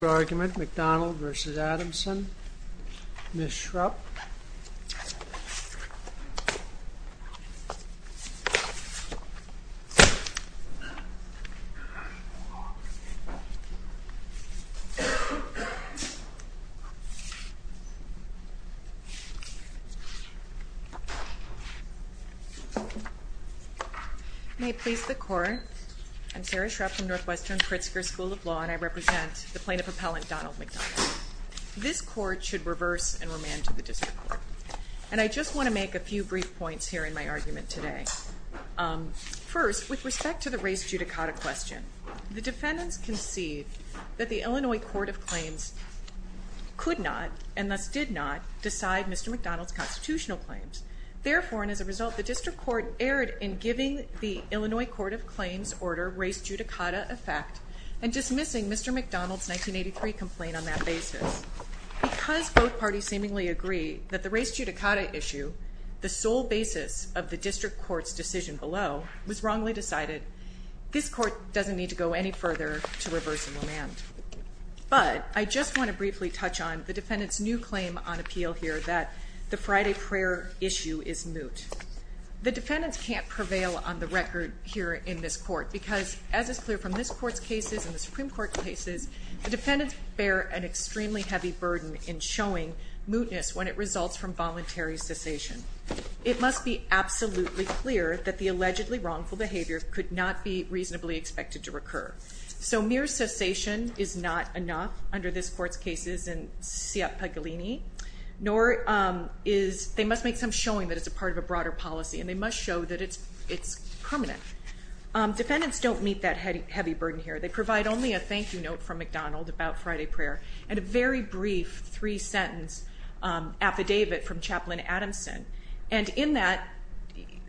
Your argument, McDonald v. Adamson. Ms. Schrupp. May it please the Court, I'm Sarah Schrupp from Northwestern Pritzker School of Law and I represent the Plaintiff Appellant Donald McDonald. This Court should reverse and remand to the District Court. And I just want to make a few brief points here in my argument today. First, with respect to the race judicata question, the defendants concede that the Illinois Court of Claims could not, and thus did not, decide Mr. McDonald's constitutional claims. Therefore, and as a result, the District Court erred in giving the Illinois Court of Claims order race judicata effect and dismissing Mr. McDonald's 1983 complaint on that basis. Because both parties seemingly agree that the race judicata issue, the sole basis of the District Court's decision below, was wrongly decided, this Court doesn't need to go any further to reverse and remand. But, I just want to briefly touch on the defendant's new claim on appeal here that the Friday prayer issue is moot. The defendants can't prevail on the record here in this Court because, as is clear from this Court's cases and the Supreme Court's cases, the defendants bear an extremely heavy burden in showing mootness when it results from voluntary cessation. It must be absolutely clear that the allegedly wrongful behavior could not be reasonably expected to recur. So, mere cessation is not enough under this Court's cases in Siapaglini, nor is, they must make some showing that it's a part of a broader policy and they must show that it's permanent. Defendants don't meet that heavy burden here. They provide only a thank you note from McDonald about Friday prayer and a very brief three sentence affidavit from Chaplain Adamson. And in that,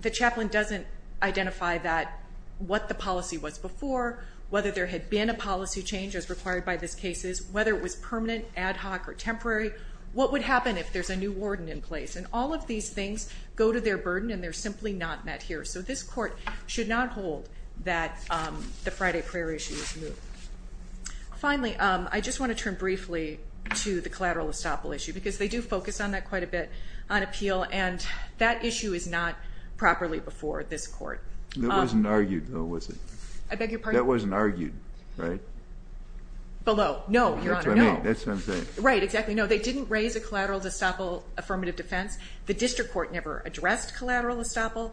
the chaplain doesn't identify that, what the policy was before, whether there had been a policy change as required by this case, whether it was permanent, ad hoc, or temporary. What would happen if there's a new warden in place? And all of these things go to their burden and they're simply not met here. So, this Court should not hold that the Friday prayer issue is moot. Finally, I just want to turn briefly to the collateral estoppel issue because they do focus on that quite a bit on appeal and that issue is not properly before this Court. It wasn't argued, though, was it? I beg your pardon? That wasn't argued, right? Below. No, Your Honor, no. That's what I'm saying. Right, exactly. No, they didn't raise a collateral estoppel affirmative defense. The district court never addressed collateral estoppel.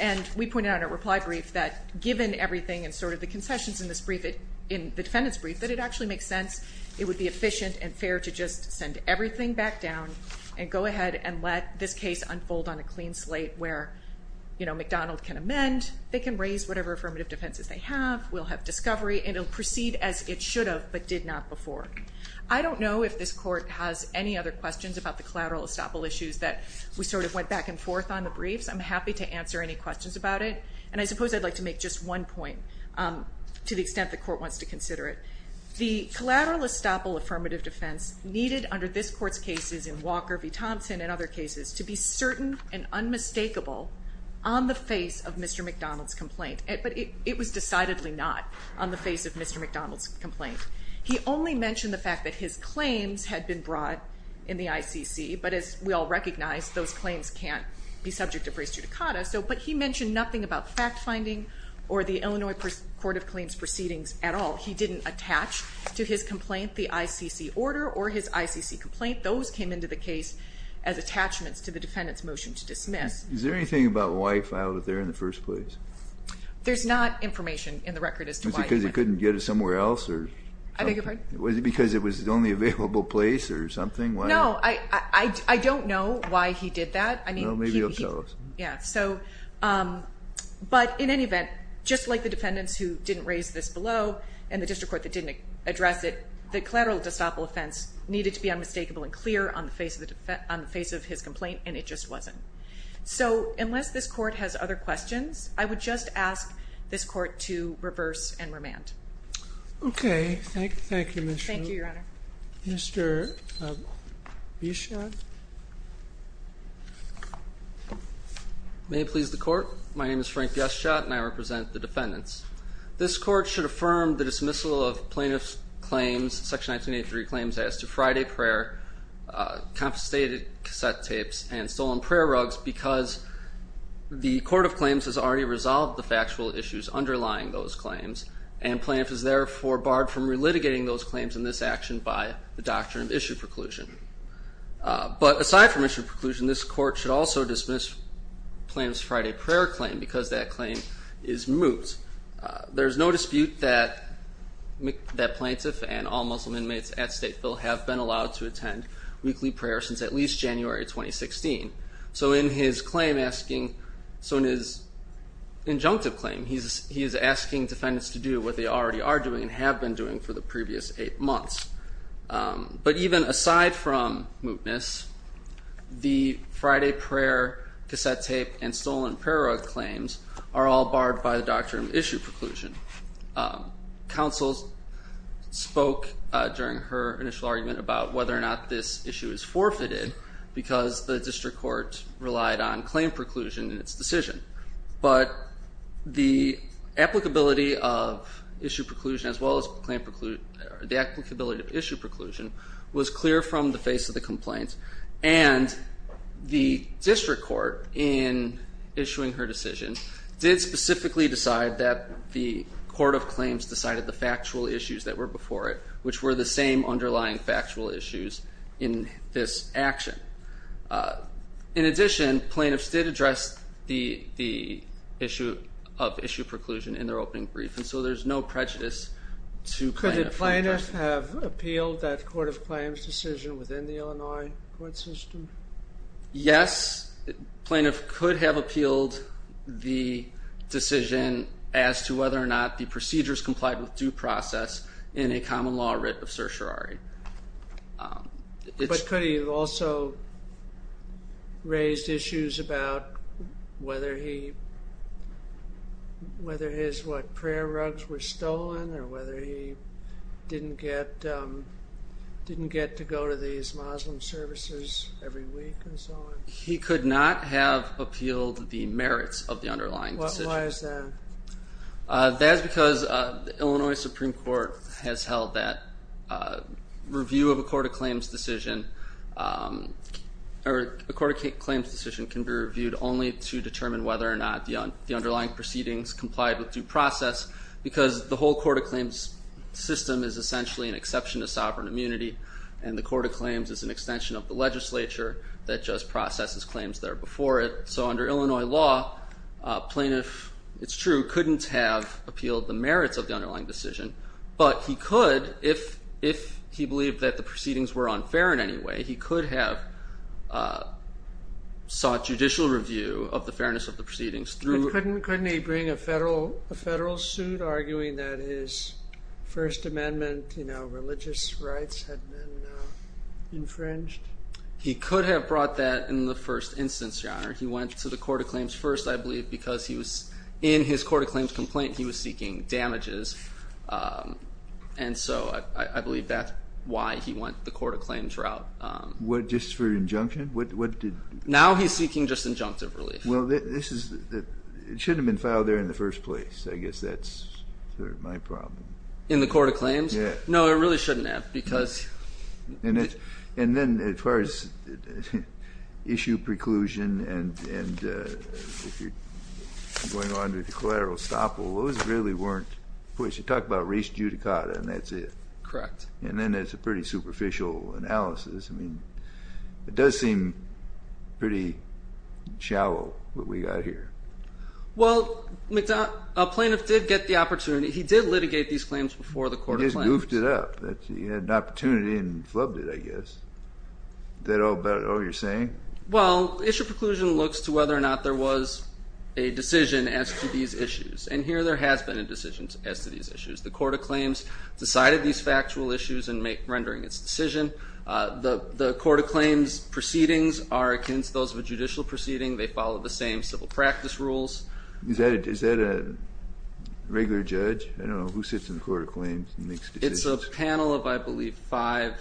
And we pointed out in a reply brief that given everything and sort of the concessions in this brief, in the defendant's brief, that it actually makes sense. It would be efficient and fair to just send everything back down and go ahead and let this case unfold on a clean slate where, you know, McDonald can amend. They can raise whatever affirmative defenses they have. We'll have discovery. And it'll proceed as it should have but did not before. I don't know if this Court has any other questions about the collateral estoppel issues that we sort of went back and forth on the briefs. I'm happy to answer any questions about it. And I suppose I'd like to make just one point to the extent the Court wants to consider it. The collateral estoppel affirmative defense needed under this Court's cases in Walker v. Thompson and other cases to be certain and unmistakable on the face of Mr. McDonald's complaint. But it was decidedly not on the face of Mr. McDonald's complaint. He only mentioned the fact that his claims had been brought in the ICC. But as we all recognize, those claims can't be subject of race judicata. But he mentioned nothing about fact-finding or the Illinois Court of Claims proceedings at all. He didn't attach to his complaint the ICC order or his ICC complaint. Those came into the case as attachments to the defendant's motion to dismiss. Is there anything about wife out there in the first place? Was it because he couldn't get it somewhere else? I beg your pardon? Was it because it was the only available place or something? No, I don't know why he did that. Well, maybe you'll tell us. Yeah. But in any event, just like the defendants who didn't raise this below and the district court that didn't address it, the collateral estoppel offense needed to be unmistakable and clear on the face of his complaint, and it just wasn't. So unless this court has other questions, I would just ask this court to reverse and remand. Okay. Thank you, Ms. Schultz. Thank you, Your Honor. Mr. Bischoff? May it please the court? My name is Frank Bischoff, and I represent the defendants. This court should affirm the dismissal of plaintiff's claims, Section 1983 claims, as to Friday prayer, confiscated cassette tapes, and stolen prayer rugs because the court of claims has already resolved the factual issues underlying those claims and plaintiff is therefore barred from relitigating those claims in this action by the doctrine of issue preclusion. But aside from issue preclusion, this court should also dismiss plaintiff's Friday prayer claim because that claim is moot. There's no dispute that plaintiff and all Muslim inmates at Stateville have been allowed to attend weekly prayer since at least January 2016. So in his injunctive claim, he is asking defendants to do what they already are doing and have been doing for the previous eight months. But even aside from mootness, the Friday prayer cassette tape and stolen prayer rug claims are all barred by the doctrine of issue preclusion. Counsel spoke during her initial argument about whether or not this issue is forfeited because the district court relied on claim preclusion in its decision. But the applicability of issue preclusion as well as the applicability of issue preclusion was clear from the face of the complaint and the district court in issuing her decision did specifically decide that the court of claims decided the factual issues that were before it which were the same underlying factual issues in this action. In addition, plaintiffs did address the issue of issue preclusion in their opening brief and so there's no prejudice to plaintiff. Could a plaintiff have appealed that court of claims decision within the Illinois court system? Yes, plaintiff could have appealed the decision as to whether or not the procedures complied with due process in a common law writ of certiorari. But could he have also raised issues about whether his prayer rugs were stolen or whether he didn't get to go to these Muslim services every week and so on? He could not have appealed the merits of the underlying decision. Why is that? That's because the Illinois Supreme Court has held that review of a court of claims decision or a court of claims decision can be reviewed only to determine whether or not the underlying proceedings complied with due process because the whole court of claims system is essentially an exception to sovereign immunity and the court of claims is an extension of the legislature that just processes claims that are before it. So under Illinois law, a plaintiff, it's true, couldn't have appealed the merits of the underlying decision but he could if he believed that the proceedings were unfair in any way. He could have sought judicial review of the fairness of the proceedings. Couldn't he bring a federal suit arguing that his First Amendment religious rights had been infringed? He could have brought that in the first instance, Your Honor. He went to the court of claims first, I believe, because in his court of claims complaint he was seeking damages and so I believe that's why he went the court of claims route. Just for injunction? Now he's seeking just injunctive relief. Well, it should have been filed there in the first place. I guess that's my problem. In the court of claims? Yeah. No, it really shouldn't have because... And then as far as issue preclusion and going on with the collateral estoppel, those really weren't pushed. You talk about res judicata and that's it. Correct. And then there's a pretty superficial analysis. I mean, it does seem pretty shallow what we got here. Well, a plaintiff did get the opportunity. He did litigate these claims before the court of claims. He just goofed it up. He had an opportunity and flubbed it, I guess. Is that all you're saying? Well, issue preclusion looks to whether or not there was a decision as to these issues. And here there has been a decision as to these issues. The court of claims decided these factual issues in rendering its decision. The court of claims proceedings are against those of a judicial proceeding. They follow the same civil practice rules. Is that a regular judge? I don't know. Who sits in the court of claims and makes decisions? It's a panel of, I believe, five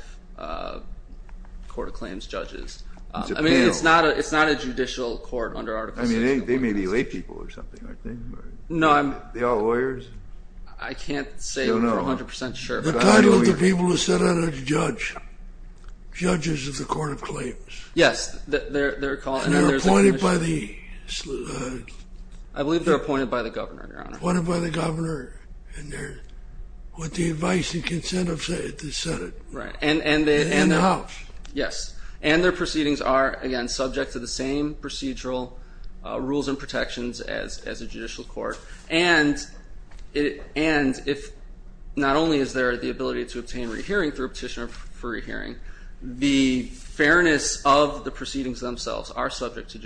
court of claims judges. It's a panel. I mean, it's not a judicial court under Article VI. I mean, they may be lay people or something, aren't they? No, I'm not. Are they all lawyers? I can't say. I don't know. I'm not 100% sure. The title of the people who sit on it is judge. Judges of the court of claims. Yes. And they're appointed by the? I believe they're appointed by the governor, Your Honor. They're appointed by the governor with the advice and consent of the Senate. Right. And the House. And their proceedings are, again, subject to the same procedural rules and protections as a judicial court. And not only is there the ability to obtain re-hearing through a petitioner for re-hearing, the fairness of the proceedings themselves are subject to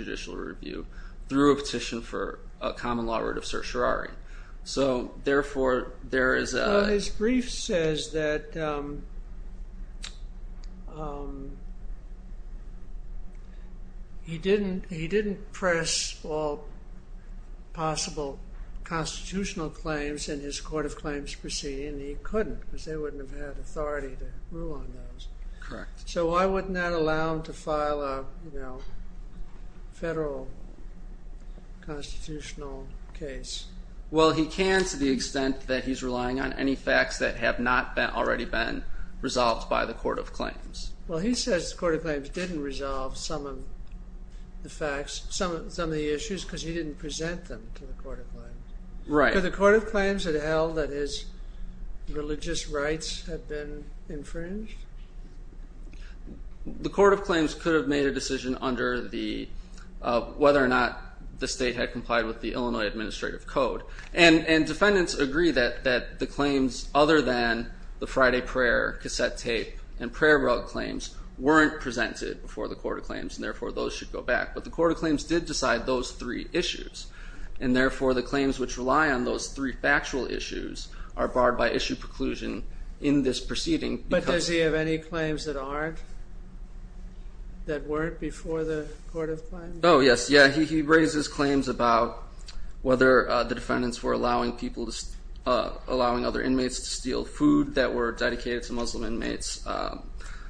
So, therefore, there is a? His brief says that he didn't press all possible constitutional claims in his court of claims proceeding. He couldn't because they wouldn't have had authority to rule on those. Correct. So why wouldn't that allow him to file a federal constitutional case? Well, he can to the extent that he's relying on any facts that have not already been resolved by the court of claims. Well, he says the court of claims didn't resolve some of the facts, some of the issues because he didn't present them to the court of claims. Right. Could the court of claims have held that his religious rights had been infringed? The court of claims could have made a decision under whether or not the state had complied with the Illinois Administrative Code. And defendants agree that the claims other than the Friday prayer cassette tape and prayer rug claims weren't presented before the court of claims and, therefore, those should go back. But the court of claims did decide those three issues. And, therefore, the claims which rely on those three factual issues are barred by issue preclusion in this proceeding. But does he have any claims that aren't, that weren't before the court of claims? Oh, yes. Yeah, he raises claims about whether the defendants were allowing other inmates to steal food that were dedicated to Muslim inmates,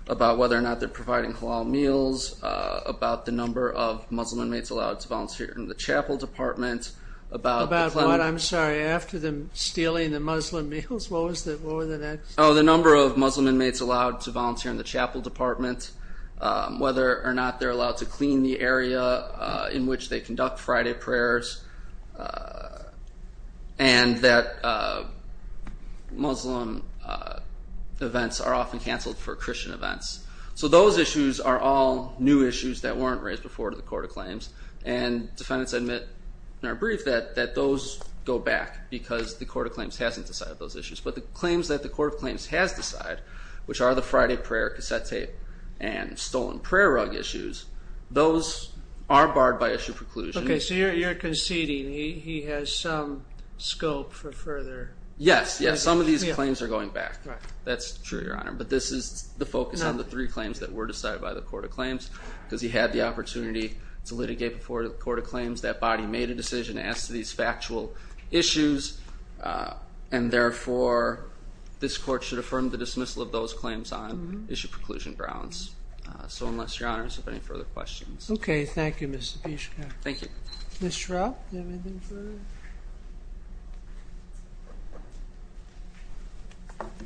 about whether or not they're providing halal meals, about the number of Muslim inmates allowed to volunteer in the chapel department. About what? I'm sorry. After them stealing the Muslim meals? What was the next? Oh, the number of Muslim inmates allowed to volunteer in the chapel department, whether or not they're allowed to clean the area in which they conduct Friday prayers, and that Muslim events are often canceled for Christian events. So those issues are all new issues that weren't raised before the court of claims, and defendants admit in our brief that those go back because the court of claims hasn't decided those issues. But the claims that the court of claims has decided, which are the Friday prayer cassette tape and stolen prayer rug issues, those are barred by issue preclusion. Okay. So you're conceding he has some scope for further. Yes, yes. Some of these claims are going back. That's true, Your Honor. But this is the focus on the three claims that were decided by the court of claims because he had the opportunity to litigate before the court of claims. That body made a decision as to these factual issues, and, therefore, this court should affirm the dismissal of those claims on issue preclusion grounds. So unless, Your Honors, you have any further questions. Okay. Thank you, Mr. Bischoff. Thank you. Ms. Schrapp, do you have anything further?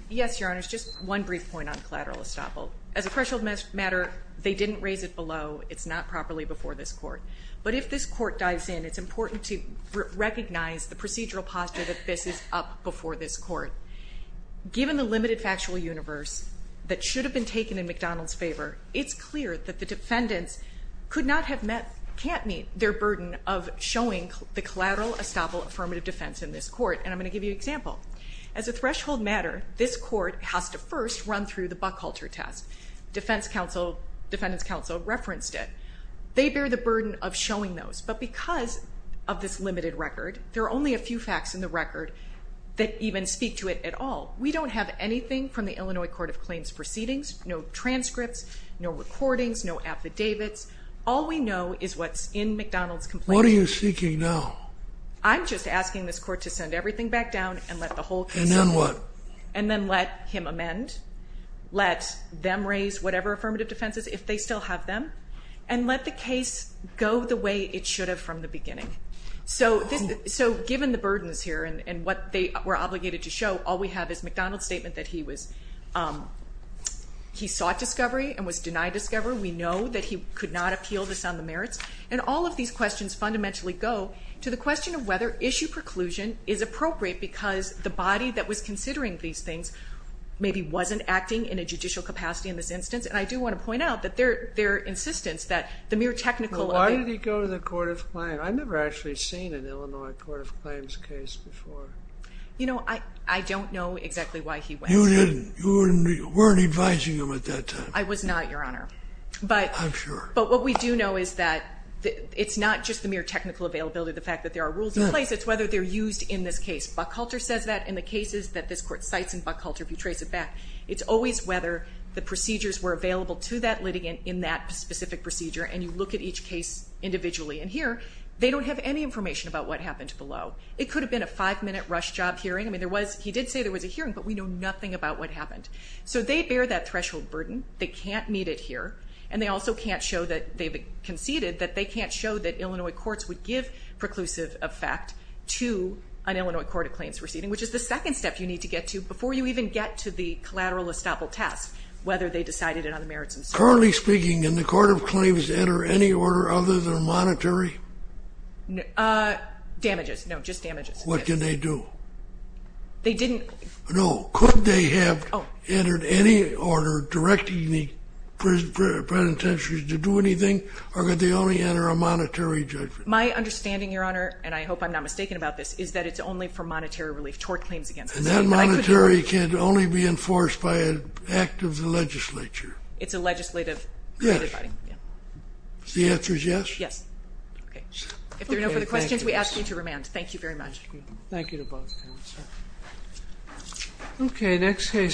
Yes, Your Honors. Just one brief point on collateral estoppel. As a threshold matter, they didn't raise it below. It's not properly before this court. But if this court dives in, it's important to recognize the procedural posture that this is up before this court. Given the limited factual universe that should have been taken in McDonald's favor, it's clear that the defendants could not have met, can't meet their burden of showing the collateral estoppel affirmative defense in this court, and I'm going to give you an example. As a threshold matter, this court has to first run through the Buckhalter test. Defendant's counsel referenced it. They bear the burden of showing those. But because of this limited record, there are only a few facts in the record that even speak to it at all. We don't have anything from the Illinois Court of Claims proceedings, no transcripts, no recordings, no affidavits. All we know is what's in McDonald's complaint. What are you seeking now? I'm just asking this court to send everything back down and let the whole case. And then what? And then let him amend. Let them raise whatever affirmative defense is, if they still have them. And let the case go the way it should have from the beginning. So given the burdens here and what they were obligated to show, all we have is McDonald's statement that he sought discovery and was denied discovery. We know that he could not appeal this on the merits. And all of these questions fundamentally go to the question of whether issue preclusion is appropriate because the body that was considering these things maybe wasn't acting in a judicial capacity in this instance. And I do want to point out that their insistence that the mere technical of it. Why did he go to the Court of Claims? I've never actually seen an Illinois Court of Claims case before. You know, I don't know exactly why he went. You didn't. You weren't advising him at that time. I was not, Your Honor. I'm sure. But what we do know is that it's not just the mere technical availability, the fact that there are rules in place. It's whether they're used in this case. Buckhalter says that in the cases that this court cites in Buckhalter, if you trace it back. It's always whether the procedures were available to that litigant in that specific procedure. And you look at each case individually. And here, they don't have any information about what happened below. It could have been a five-minute rush job hearing. I mean, he did say there was a hearing, but we know nothing about what happened. So they bear that threshold burden. They can't meet it here. And they also can't show that they conceded that they can't show that Illinois courts would give preclusive effect to an Illinois Court of Claims proceeding, which is the second step you need to get to before you even get to the collateral estoppel test, whether they decided it on the merits themselves. Currently speaking, can the Court of Claims enter any order other than monetary? Damages. No, just damages. What can they do? They didn't. No. Could they have entered any order directing the penitentiaries to do anything, or could they only enter a monetary judgment? My understanding, Your Honor, and I hope I'm not mistaken about this, is that it's only for monetary relief toward claims against them. And that monetary can only be enforced by an act of the legislature. It's a legislative. Yes. The answer is yes? Yes. Okay. If there are no further questions, we ask you to remand. Thank you very much. Thank you to both. Okay, next case.